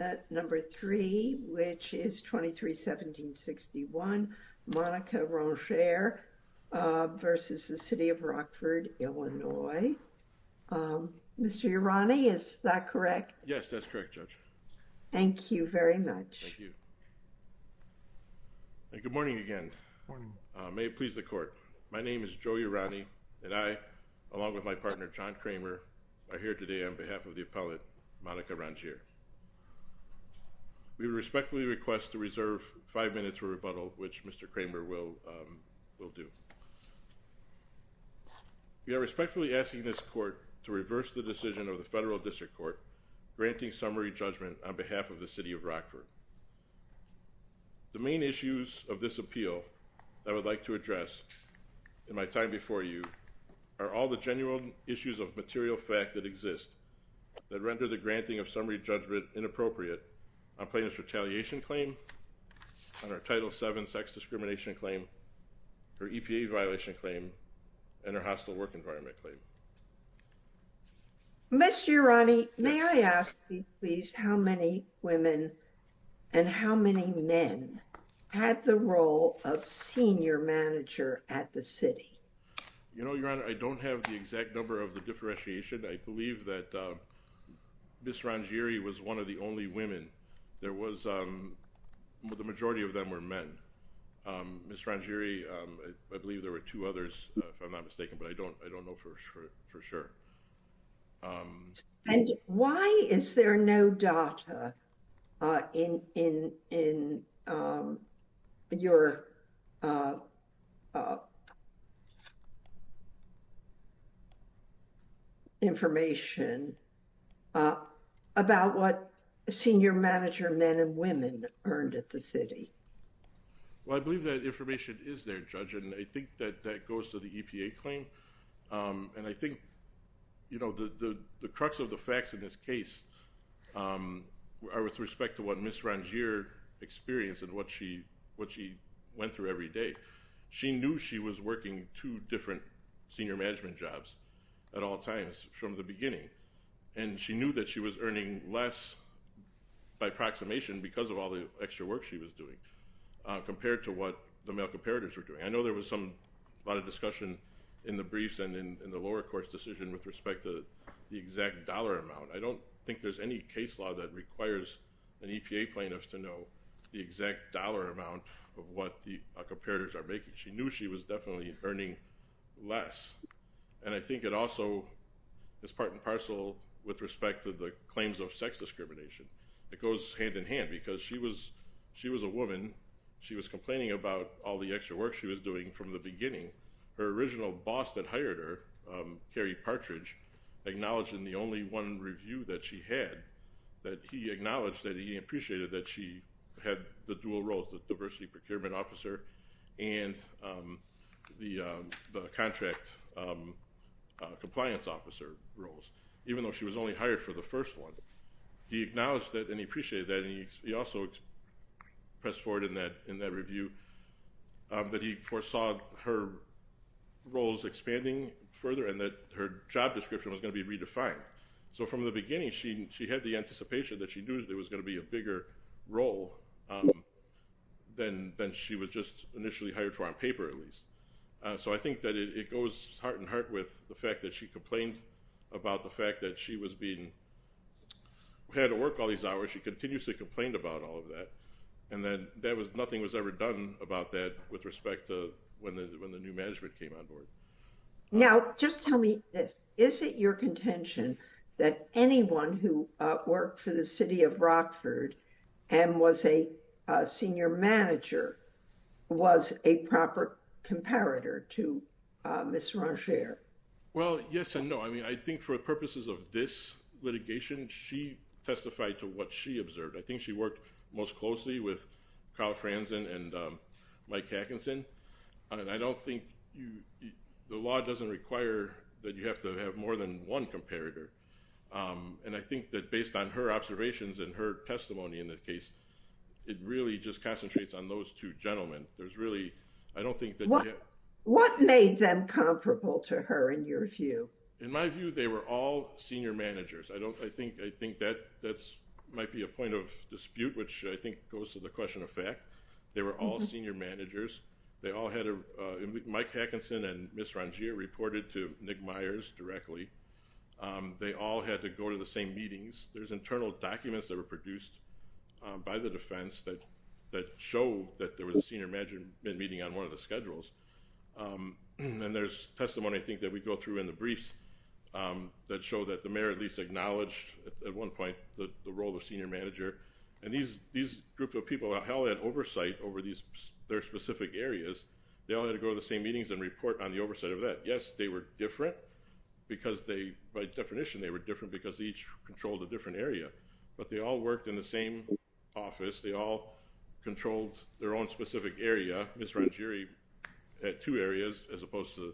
at number three which is 23-1761 Monica Rongere versus the City of Rockford, Illinois. Mr. Urani, is that correct? Yes, that's correct, Judge. Thank you very much. Thank you. Good morning again. Good morning. May it please the court. My name is Joe Urani and I, along with my partner John Kramer, are here today on behalf of the appellate Monica Rongere. We respectfully request to reserve five minutes for rebuttal which Mr. Kramer will do. We are respectfully asking this court to reverse the decision of the federal district court granting summary judgment on behalf of the City of Rockford. The main issues of this appeal that I would like to address in my time before you are all the genuine issues of material fact that exist that render the granting of summary judgment inappropriate on plaintiff's retaliation claim, on her Title VII sex discrimination claim, her EPA violation claim, and her hostile work environment claim. Mr. Urani, may I ask you please how many women and how many men had the role of senior manager at the City? You know, Your Honor, I don't have the exact number of the differentiation. I believe that Ms. Rongere was one of the only women. There was, the majority of them were men. Ms. Rongere, I believe there were two others, if I'm not mistaken, but I don't know for sure. Thank you. Why is there no data in your information about what senior manager men and women earned at the City? Well, I believe that information is there, Judge, and I think that that goes to the EPA claim. And I think, you know, the crux of the facts in this case are with respect to what Ms. Rongere experienced and what she went through every day. She knew she was working two different senior management jobs at all times from the beginning, and she knew that she was earning less by approximation because of all the extra work she was doing compared to what the male in the briefs and in the lower court's decision with respect to the exact dollar amount. I don't think there's any case law that requires an EPA plaintiff to know the exact dollar amount of what the comparators are making. She knew she was definitely earning less. And I think it also is part and parcel with respect to the claims of sex discrimination. It goes hand in hand because she was a woman. She was complaining about all the extra work she was doing from the beginning. Her original boss that hired her, Cary Partridge, acknowledged in the only one review that she had that he acknowledged that he appreciated that she had the dual roles, the diversity procurement officer and the contract compliance officer roles, even though she was only hired for the first one. He acknowledged that and he appreciated that, and he also pressed forward in that review that he foresaw her roles expanding further and that her job description was going to be redefined. So from the beginning, she had the anticipation that she knew there was going to be a bigger role than she was just initially hired for on paper, at least. So I think that it goes heart and heart with the fact that she complained about the fact that she was being had to work all these hours. She continuously complained about all of that. And then that was nothing was ever done about that with respect to when the new management came on board. Now, just tell me, is it your contention that anyone who worked for the city of Rockford and was a senior manager was a proper comparator to Ms. Ranger? Well, yes and no. I mean, for purposes of this litigation, she testified to what she observed. I think she worked most closely with Carl Franzen and Mike Atkinson. I don't think the law doesn't require that you have to have more than one comparator. And I think that based on her observations and her testimony in the case, it really just concentrates on those two gentlemen. There's really, I don't think that... What made them comparable to her in your view? In my view, they were all senior managers. I think that might be a point of dispute, which I think goes to the question of fact. They were all senior managers. They all had... Mike Atkinson and Ms. Ranger reported to Nick Myers directly. They all had to go to the same meetings. There's internal documents that were produced by the defense that show that there was a senior management meeting on one of the schedules. And then there's testimony, I think, that we go through in the briefs that show that the mayor at least acknowledged at one point the role of senior manager. And these groups of people all had oversight over their specific areas. They all had to go to the same meetings and report on the oversight of that. Yes, they were different because they, by definition, they were different because they each controlled a different area. But they all worked in the same office. They all controlled their own specific area. Ms. Rangeri had two areas as opposed to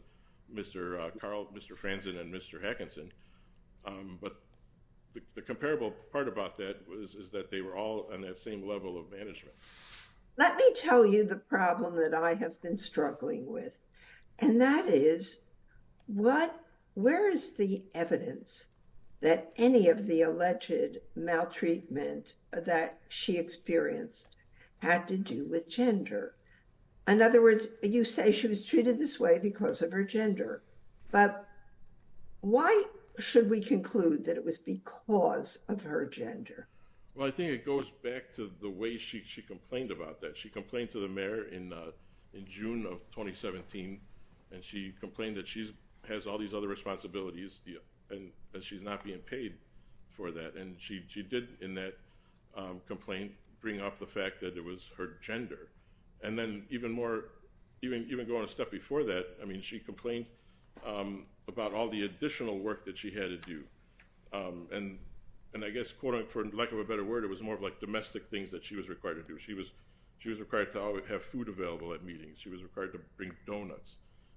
Mr. Carl, Mr. Franzen, and Mr. Atkinson. But the comparable part about that is that they were all on that same level of management. Let me tell you the problem that I have been struggling with. And that is, where is the alleged maltreatment that she experienced had to do with gender? In other words, you say she was treated this way because of her gender. But why should we conclude that it was because of her gender? Well, I think it goes back to the way she complained about that. She complained to the mayor in June of 2017. And she complained that she has all these other responsibilities and she's not being paid for that. And she did, in that complaint, bring up the fact that it was her gender. And then even more, even going a step before that, I mean, she complained about all the additional work that she had to do. And I guess, for lack of a better word, it was more of like domestic things that she was required to do. She was required to have food available at meetings. She was required to bring donuts.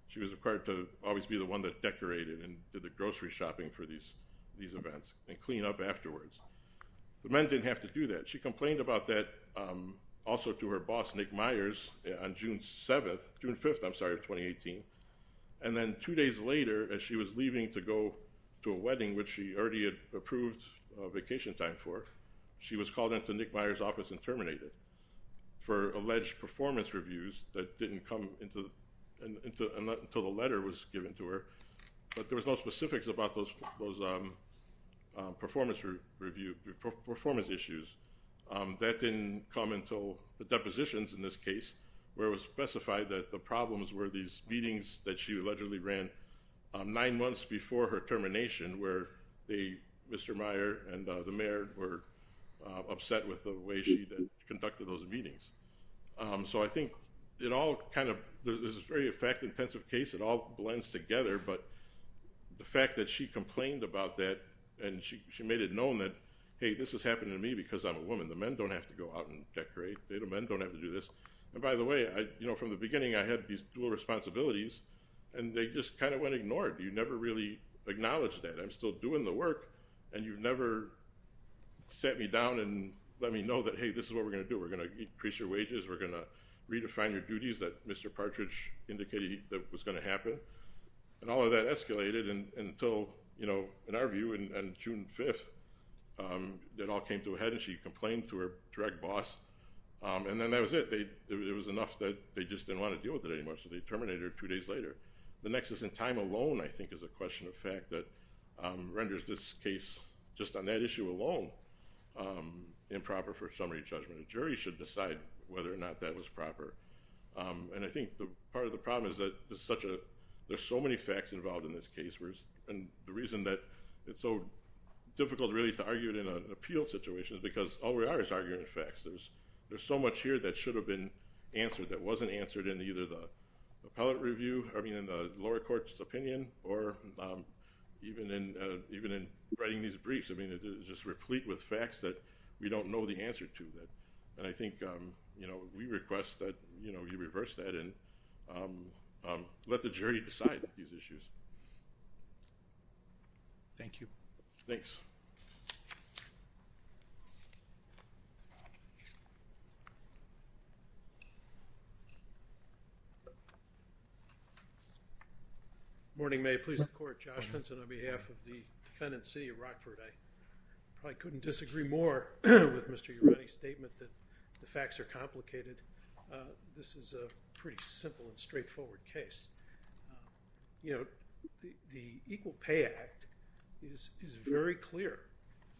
She was required to always be the one that goes grocery shopping for these events and clean up afterwards. The men didn't have to do that. She complained about that also to her boss, Nick Myers, on June 7th, June 5th, I'm sorry, of 2018. And then two days later, as she was leaving to go to a wedding, which she already had approved a vacation time for, she was called into Nick Myers' office and terminated for alleged performance reviews that didn't come until the letter was given to her. But there was no specifics about those performance issues. That didn't come until the depositions, in this case, where it was specified that the problems were these meetings that she allegedly ran nine months before her termination, where Mr. Meyer and the mayor were upset with the way she conducted those meetings. So I think it all kind of, this is a very fact-intensive case. It all blends together. But the fact that she complained about that, and she made it known that, hey, this has happened to me because I'm a woman. The men don't have to go out and decorate. Men don't have to do this. And by the way, you know, from the beginning, I had these dual responsibilities, and they just kind of went ignored. You never really acknowledged that. I'm still doing the work, and you've never sat me down and let me know that, hey, this is what we're going to do. We're going to increase your wages. We're going to make sure that you're paid. And all of that escalated until, you know, in our view, on June 5th, it all came to a head, and she complained to her direct boss. And then that was it. It was enough that they just didn't want to deal with it anymore. So they terminated her two days later. The nexus in time alone, I think, is a question of fact that renders this case, just on that issue alone, improper for summary judgment. A jury should decide whether or not that was proper. And I think part of the problem is that there's so many facts involved in this case. And the reason that it's so difficult, really, to argue it in an appeal situation is because all we are is arguing the facts. There's so much here that should have been answered that wasn't answered in either the appellate review, I mean, in the lower court's opinion, or even in writing these briefs. I mean, it's just replete with facts that we don't know the answer to. And I think, you know, we request that, you know, you reverse that and let the jury decide these issues. Thank you. Thanks. Morning, may it please the Court. Josh Vinson on behalf of the defendant's city of Rockford. I couldn't disagree more with Mr. Ureni's statement that the facts are complicated. This is a pretty simple and straightforward case. You know, the Equal Pay Act is very clear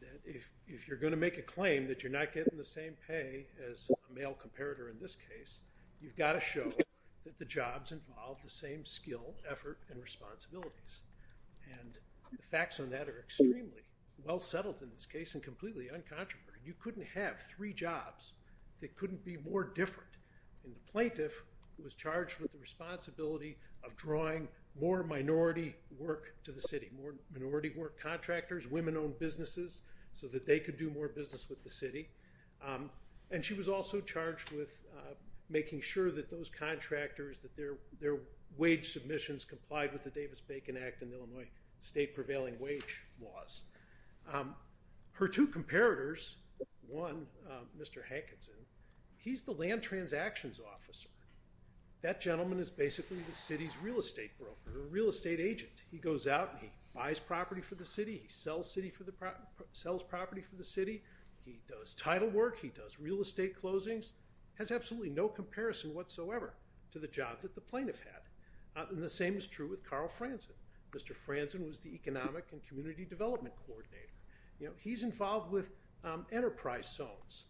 that if you're going to make a claim that you're not getting the same pay as a male comparator in this case, you've got to show that the jobs involve the same skill, effort, and responsibilities. And the facts on that are extremely well settled in this case and completely uncontroverted. You couldn't have three jobs that couldn't be more different. And the plaintiff was charged with the responsibility of drawing more minority work to the city, more minority work contractors, women-owned businesses, so that they could do more business with the city. And she was also charged with making sure that those contractors, that their wage submissions complied with the prevailing wage laws. Her two comparators, one, Mr. Hankinson, he's the land transactions officer. That gentleman is basically the city's real estate broker, real estate agent. He goes out and he buys property for the city, he sells property for the city, he does title work, he does real estate closings, has absolutely no comparison whatsoever to the job that the plaintiff had. And the same is true with Carl Franzen. Mr. Franzen was the economic and community development coordinator. You know, he's involved with enterprise zones,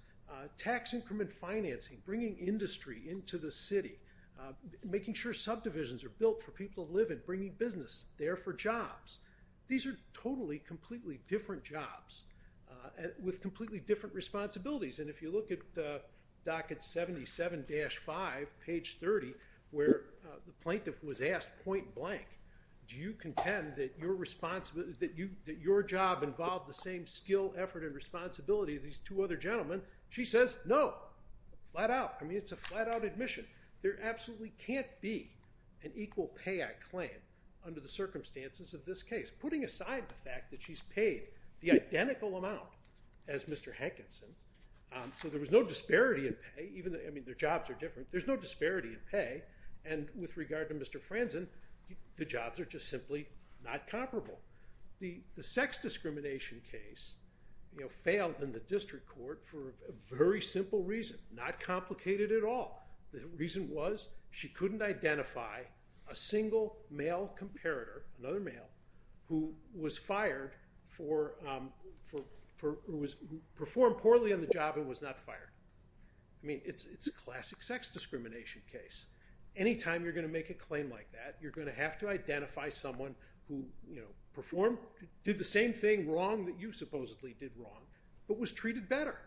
tax increment financing, bringing industry into the city, making sure subdivisions are built for people to live in, bringing business there for jobs. These are totally, completely different jobs with completely different responsibilities. And if you look at docket 77-5, page 30, where the plaintiff was asked point blank, do you contend that your job involved the same skill, effort, and responsibility of these two other gentlemen? She says, no, flat out. I mean, it's a flat-out admission. There absolutely can't be an equal pay, I claim, under the circumstances of this case. Putting aside the fact that she's paid the identical amount as Mr. Hankinson, so there was no disparity in pay, even though, I mean, their jobs are different, there's no disparity in pay. And with regard to Mr. Franzen, the jobs are just simply not comparable. The sex discrimination case failed in the district court for a very simple reason, not complicated at all. The reason was she couldn't identify a single male comparator, another male, who was fired for, who performed poorly on the job and was not fired. I mean, it's a classic sex discrimination case. Anytime you're going to make a claim like that, you're going to have to identify someone who, you know, performed, did the same thing wrong that you supposedly did wrong, but was treated better.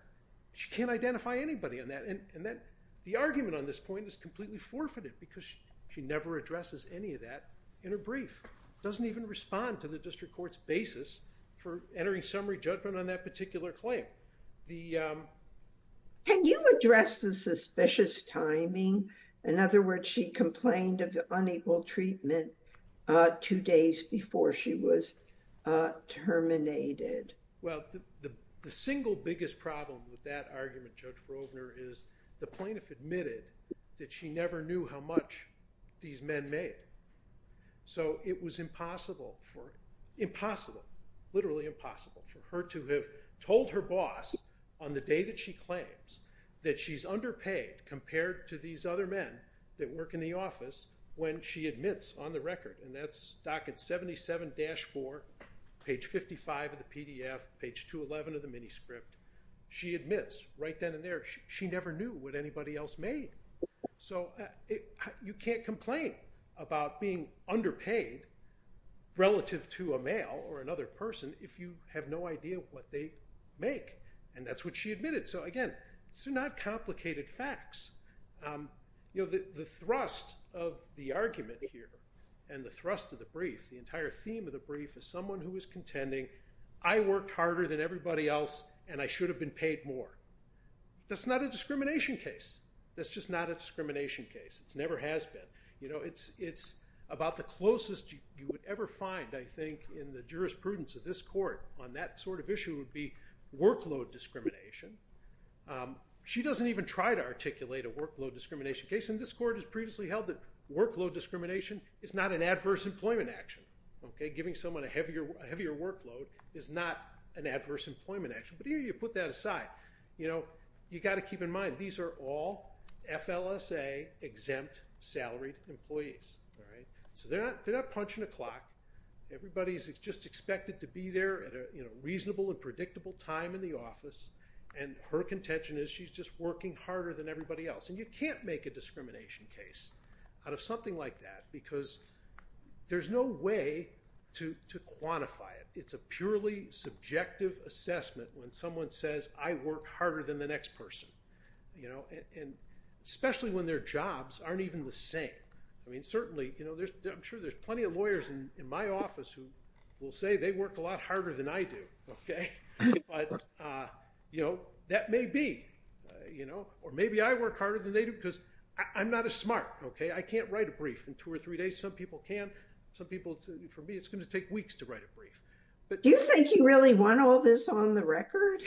She can't identify anybody on that. And the argument on this point is completely forfeited because she never addresses any of that in her brief. Doesn't even respond to the district court's basis for entering summary judgment on that particular claim. The... Can you address the suspicious timing? In other words, she complained of unequal treatment two days before she was terminated. Well, the single biggest problem with that argument, Judge Rovner, is the plaintiff admitted that she never knew how much these men made. So it was impossible for... Impossible, literally impossible for her to have told her boss on the day that she claims that she's underpaid compared to these other men that work in the office when she admits on the record, and that's docket 77-4, page 55 of the PDF, page 211 of the mini script. She admits right then and there, she never knew what anybody else made. So you can't complain about being underpaid relative to a male or another person if you have no idea what they make. And that's what she admitted. So again, these are not complicated facts. You know, the thrust of the argument here and the thrust of the brief, the entire theme of the brief is someone who is contending, I worked harder than everybody else and I should have been paid more. That's not a discrimination case. That's just not a discrimination case. It never has been. You know, it's about the closest you would ever find, I think, in the jurisprudence of this court on that sort of issue would be workload discrimination. She doesn't even try to articulate a workload discrimination case, and this court has previously held that workload discrimination is not an adverse employment action. Giving someone a heavier workload is not an adverse employment action. But here you put that aside. You know, you got to keep in mind, these are all FLSA-exempt salaried employees. So they're not punching a clock. Everybody's just expected to be there at a reasonable and predictable time in the office, and her contention is she's just working harder than everybody else. And you can't make a discrimination case out of something like that because there's no way to quantify it. It's a purely subjective assessment when someone says, I work harder than the next person, you know, and especially when their jobs aren't even the same. I mean, certainly, you know, I'm sure there's plenty of lawyers in my office who will say they work a lot harder than I do, okay? But, you know, that may be, you know, or maybe I work harder than they do because I'm not as smart, okay? I can't write a brief in two or three days. Some people can. Some people, for me, it's going to take weeks to write a brief. Do you think you really want all this on the record?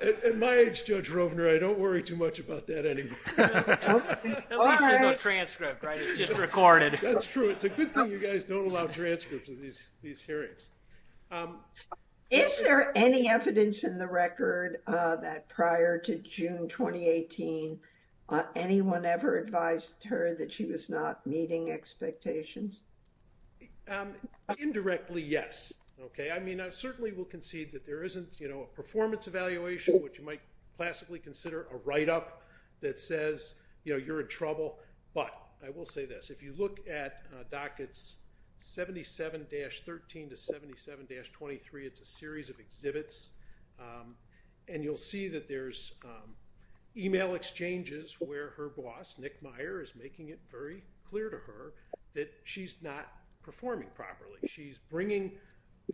At my age, Judge Rovner, I don't worry too much about that anymore. At least there's no transcript, right? It's just recorded. That's true. It's a good thing you guys don't allow transcripts of these hearings. Is there any evidence in the record that prior to June 2018, anyone ever advised her that she was not meeting expectations? Indirectly, yes, okay? I mean, I certainly will concede that there isn't, you know, a performance evaluation, which you might classically consider a write-up that says, you know, you're in trouble, but I will say this. If you look at dockets 77-13 to 77-23, it's a series of exhibits, and you'll see that there's email exchanges where her boss, Nick Meyer, is making it very clear to her that she's not performing properly. She's bringing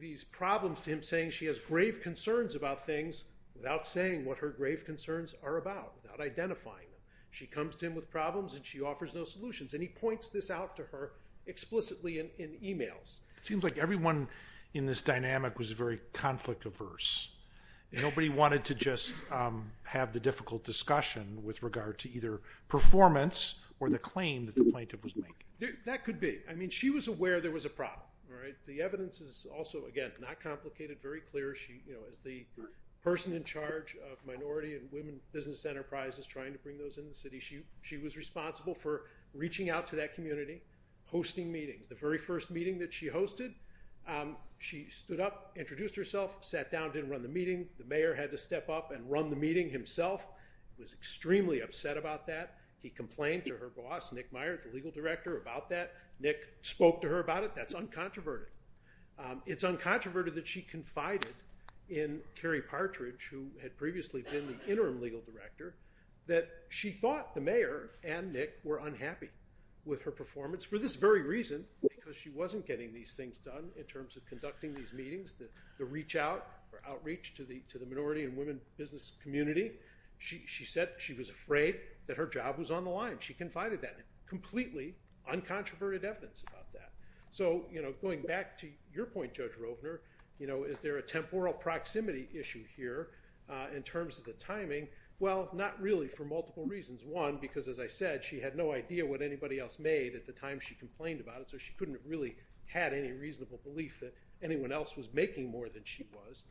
these problems to him, saying she has grave concerns about things, without saying what her grave concerns are about, without identifying them. She comes to him with problems, and she offers no solutions, and he points this out to her explicitly in emails. It seems like everyone in this dynamic was very conflict-averse. Nobody wanted to just have the difficult discussion with regard to either performance or the claim that the plaintiff was making. That could be. I mean, she was aware there was a problem, all right? The evidence is also, again, not complicated, very clear. She, as the person in charge of minority and women business enterprises trying to bring those in the city, she was responsible for reaching out to that community, hosting meetings. The very first meeting that she hosted, she stood up, introduced herself, sat down, didn't run the meeting. The mayor had to step up and run the meeting himself. He was extremely upset about that. He complained to her boss, Nick Meyer, the legal director, about that. Nick spoke to her about it. That's un-controverted. It's un-controverted that she confided in Carrie Partridge, who had previously been the interim legal director, that she thought the mayor and Nick were unhappy with her performance for this very reason, because she wasn't getting these things done in terms of conducting these meetings, the reach-out or outreach to the minority and women business community. She said she was afraid that her job was on the line. She confided that. Completely un-controverted evidence about that. Going back to your point, Judge Rovner, is there a temporal proximity issue here in terms of the timing? Well, not really for multiple reasons. One, because as I said, she had no idea what anybody else made at the time she complained about it, so she couldn't have really had any reasonable belief that anyone else was making more than she was.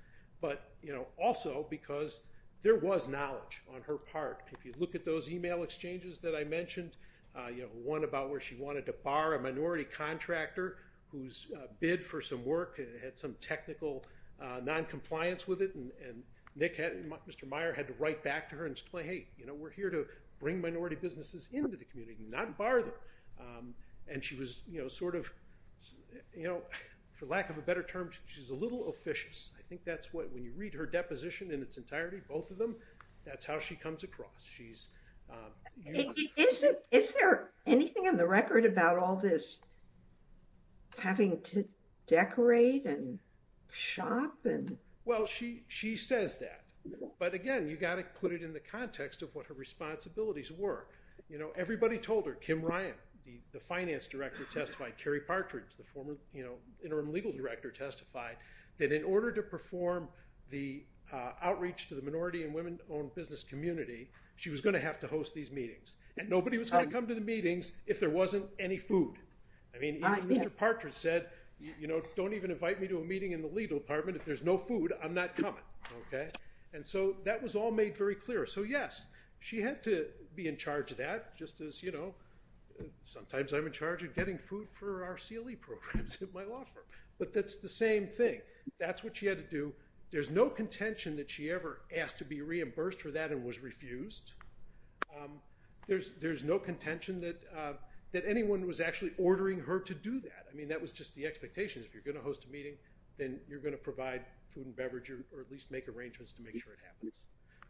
Also, because there was knowledge on her part. If you look at those email exchanges that I mentioned, there was a contractor whose bid for some work had some technical non-compliance with it, and Nick and Mr. Meyer had to write back to her and say, hey, we're here to bring minority businesses into the community, not bar them. And she was sort of, for lack of a better term, she's a little officious. I think that's what, when you read her deposition in its entirety, both of That's how she comes across. Is there anything on the record about all this having to decorate and shop? Well, she says that, but again, you got to put it in the context of what her responsibilities were. Everybody told her, Kim Ryan, the finance director testified, Carrie Partridge, the former interim legal director testified, that in order to perform the outreach to the minority and women-owned business community, she was going to have to host these meetings. And nobody was going to come to the meetings if there wasn't any food. I mean, even Mr. Partridge said, don't even invite me to a meeting in the legal department. If there's no food, I'm not coming. And so that was all made very clear. So yes, she had to be in charge of that, just as sometimes I'm in charge of getting food for our CLE programs at my law firm. But that's the same thing. That's what she had to do. There's no contention that she ever asked to be reimbursed for that and was refused. There's no contention that anyone was actually ordering her to do that. I mean, that was just the expectations. If you're going to host a meeting, then you're going to provide food and beverage or at least make arrangements to make sure it happens.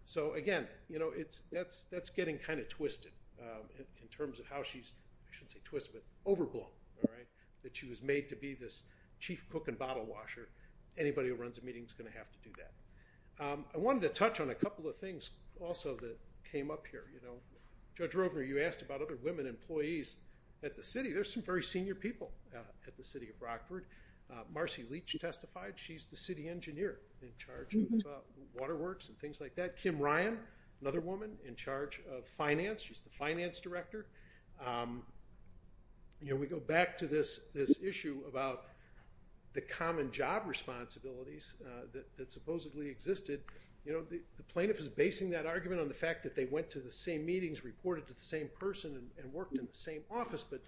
So again, that's getting kind of twisted in terms of how she's, I shouldn't say this, chief cook and bottle washer. Anybody who runs a meeting is going to have to do that. I wanted to touch on a couple of things also that came up here. Judge Rovner, you asked about other women employees at the city. There's some very senior people at the city of Rockford. Marcy Leach testified. She's the city engineer in charge of waterworks and things like that. Kim Ryan, another woman in charge of finance. She's the finance director. We go back to this issue about the common job responsibilities that supposedly existed. The plaintiff is basing that argument on the fact that they went to the same meetings, reported to the same person, and worked in the same office, but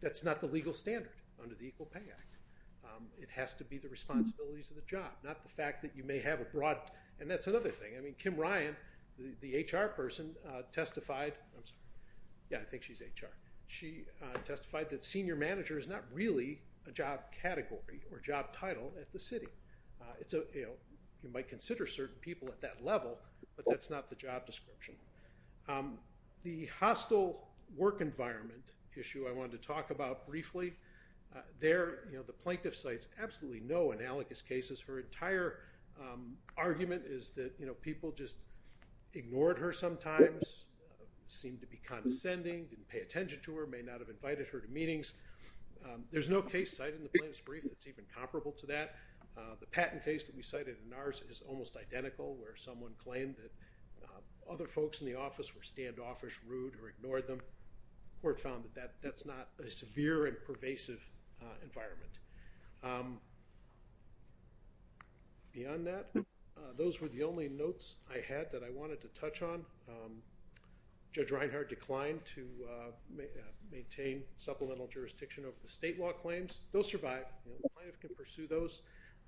that's not the legal standard under the Equal Pay Act. It has to be the responsibilities of the job, not the fact that you may have a broad... And that's another thing. I mean, Kim Ryan, the HR person testified... Yeah, I think she's HR. She testified that senior manager is not really a job category or job title at the city. You might consider certain people at that level, but that's not the job description. The hostile work environment issue I wanted to talk about briefly. There, the plaintiff cites absolutely no analogous cases. Her entire argument is that people just ignored her sometimes, seemed to be condescending, didn't pay attention to her, may not have invited her to meetings. There's no case cited in the plaintiff's brief that's even comparable to that. The Patton case that we cited in ours is almost identical, where someone claimed that other folks in the office were standoffish, rude, or ignored them. The court found that that's not a severe and pervasive environment. Beyond that, those were the only notes I had that I wanted to touch on. Judge Reinhart declined to maintain supplemental jurisdiction over the state law claims. They'll survive. The plaintiff can pursue those.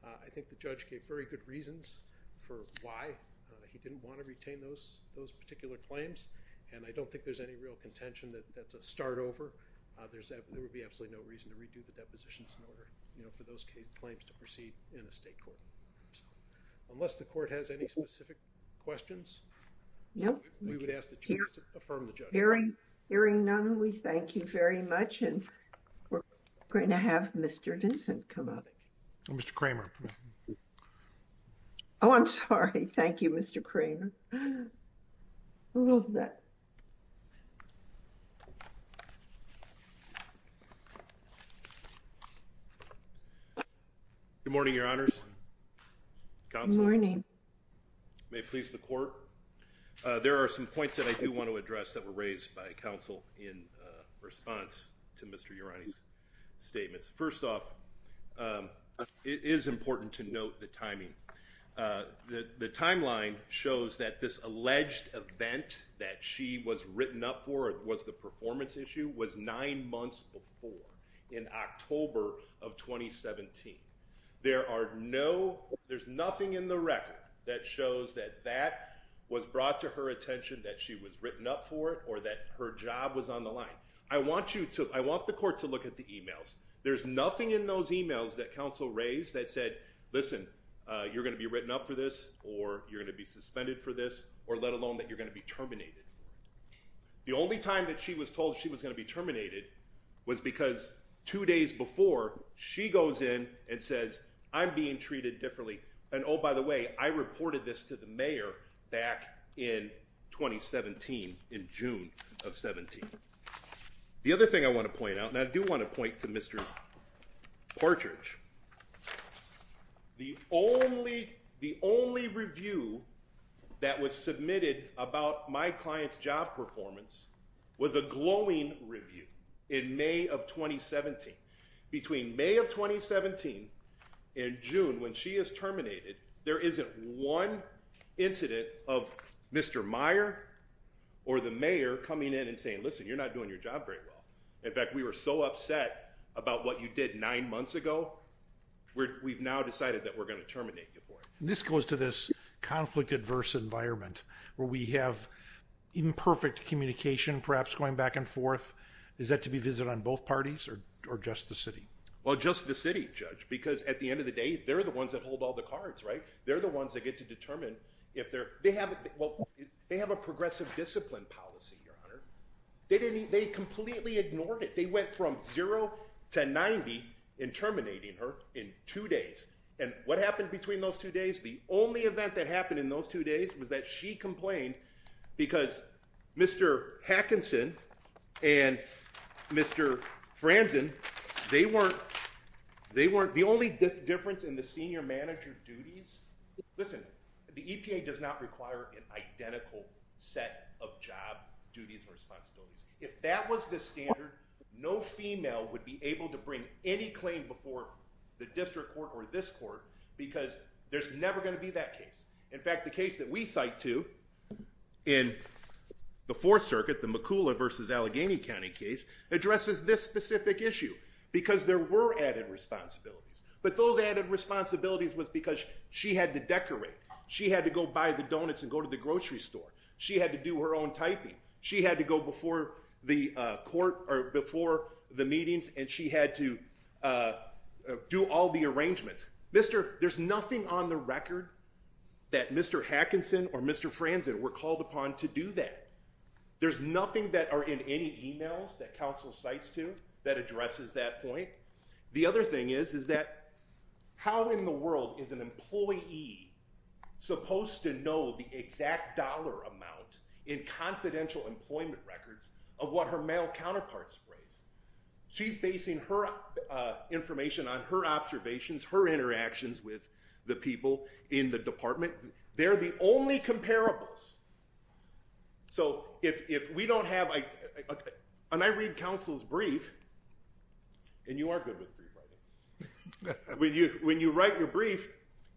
I think the judge gave very good reasons for why he didn't want to retain those particular claims. And I don't think there's any real contention that that's a start over. There would be absolutely no reason to redo the depositions in order for those claims to proceed in a state court. Unless the court has any specific questions? Nope. Hearing none, we thank you very much. And we're going to have Mr. Vincent come up. Mr. Kramer. Oh, I'm sorry. Thank you, Mr. Kramer. Good morning, Your Honors. Good morning. May it please the court. There are some points that I do want to address that were raised by counsel in response to Mr. Urani's statements. First off, it is important to note the timing. The timeline shows that this alleged event that she was written up for, was the performance issue, was nine months before, in October of 2017. There are no, there's nothing in the record that shows that that was brought to her attention, that she was written up for it, or that her job was on the line. I want you to, I want the court to look at the emails. There's nothing in those emails that counsel raised that said, listen, you're going to be written up for this, or you're going to be suspended for this, or let alone that you're going to be terminated. The only time that she was told she was going to be terminated was because two days before, she goes in and says, I'm being treated differently. And oh, by the way, I reported this to the mayor back in 2017, in June of 17. The other thing I want to point out, and I do want to point to Mr. Partridge, the only, the only review that was submitted about my client's job performance was a glowing review in May of 2017. Between May of 2017 and June, when she is terminated, there isn't one incident of Mr. Meyer or the mayor coming in and saying, listen, you're not doing your job very well. In fact, we were so upset about what you did nine months ago, we've now decided that we're going to terminate you for it. This goes to this conflict adverse environment where we have imperfect communication, perhaps going back and forth. Is that to be visited on both parties or just the city? Well, just the city judge, because at the end of the day, they're the ones that hold all the cards, right? They're the ones that get to determine if they're, they have, well, they have a progressive discipline policy. Your honor, they didn't, they completely ignored it. They went from zero to 90 in terminating her in two days. And what happened between those two days? The only event that happened in those two days was that she complained because Mr. Hackinson and Mr. Franzen, they weren't, they weren't the only difference in the senior manager duties. Listen, the EPA does not require an identical set of job duties and responsibilities. If that was the standard, no female would be able to bring any claim before the district court or this court because there's never going to be that case. In fact, the case that we cite to in the fourth circuit, the McCullough versus Allegheny County case addresses this specific issue because there were added responsibilities, but those added responsibilities was because she had to decorate. She had to go buy the donuts and go to the grocery store. She had to do her own typing. She had to go before the court or before the meetings and she had to do all the arrangements. Mr. There's nothing on the record that Mr. Hackinson or Mr. Franzen were called upon to do that. There's nothing that are in any emails that council cites to that addresses that point. The other thing is, is that how in the world is an employee supposed to know the exact dollar amount in confidential employment records of what her male counterparts phrase. She's basing her information on her observations, her interactions with the people in the department. They're the only comparables. So if we don't have a, and I read counsel's brief and you are good with three by the way, when you, when you write your brief,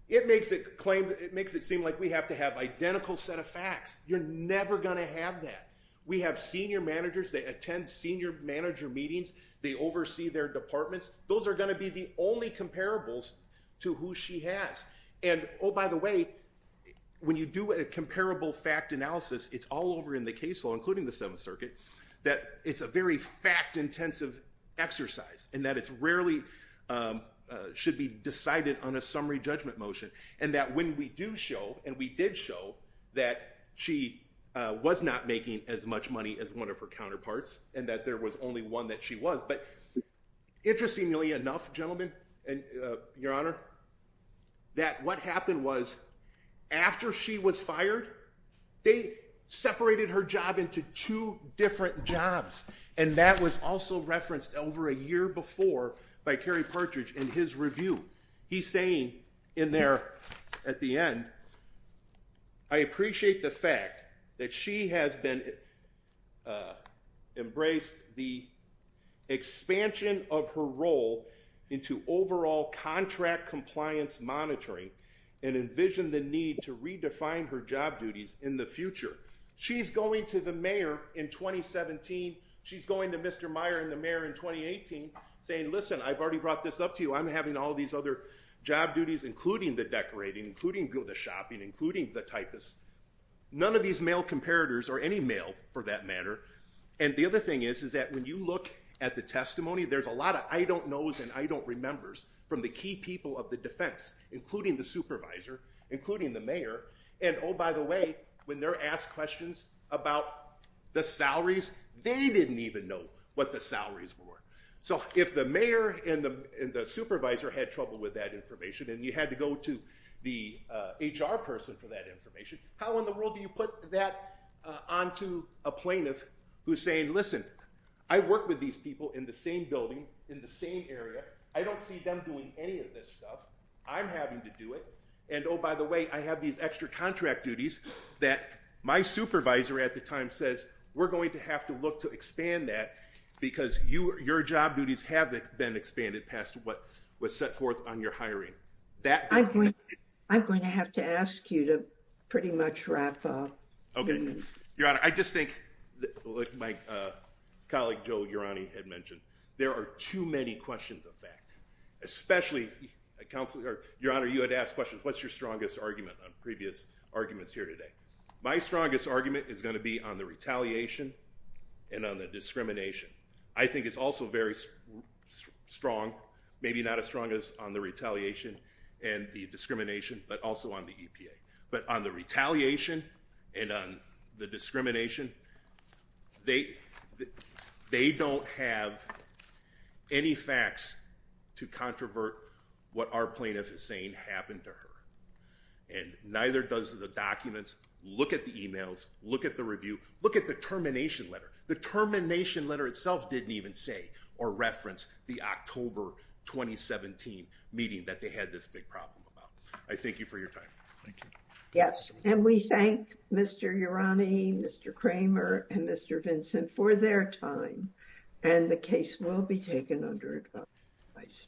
it makes it claim, it makes it seem like we have to have identical set of facts. You're never going to have that. We have senior managers. They attend senior manager meetings. They oversee their departments. Those are going to be the only comparables to who she has. And Oh, by the way, when you do a comparable fact analysis, it's all over in the case law, including the seventh circuit, that it's a very fact intensive exercise and that it's rarely should be decided on a summary judgment motion. And that when we do show, and we did show that she was not making as much money as one of her counterparts and that there was only one that she was, but interestingly enough, gentlemen and your honor, that what happened was after she was fired, they separated her job into two different jobs. And that was also referenced over a year before by Carrie Partridge in his embraced the expansion of her role into overall contract compliance monitoring and envision the need to redefine her job duties in the future. She's going to the mayor in 2017. She's going to Mr. Meyer and the mayor in 2018 saying, listen, I've already brought this up to you. I'm having all these other job duties, including the decorating, including go the And the other thing is, is that when you look at the testimony, there's a lot of, I don't know, and I don't remember from the key people of the defense, including the supervisor, including the mayor. And Oh, by the way, when they're asked questions about the salaries, they didn't even know what the salaries were. So if the mayor and the supervisor had trouble with that information and you had to go to the HR person for that information, how in the world do put that onto a plaintiff who's saying, listen, I work with these people in the same building in the same area. I don't see them doing any of this stuff. I'm having to do it. And Oh, by the way, I have these extra contract duties that my supervisor at the time says, we're going to have to look to expand that because you, your job duties have been expanded past what was set forth on your hiring that I'm going to have to ask you to pretty much wrap up. Okay. Your honor. I just think like my colleague, Joe Urani had mentioned, there are too many questions of fact, especially a counselor, your honor. You had to ask questions. What's your strongest argument on previous arguments here today? My strongest argument is going to be on the retaliation and on the discrimination. I think it's also very strong, maybe not as strong as on the retaliation and the discrimination, but also on the EPA, but on the retaliation and on the discrimination, they, they don't have any facts to controvert what our plaintiff is saying happened to her. And neither does the documents look at the emails, look at the review, look at the termination letter, the termination letter itself didn't even say or reference the October, 2017 meeting that they had this big problem about. I thank you for your time. Thank you. Yes. And we thank Mr. Urani, Mr. Kramer, and Mr. Vincent for their time. And the case will be taken under advice.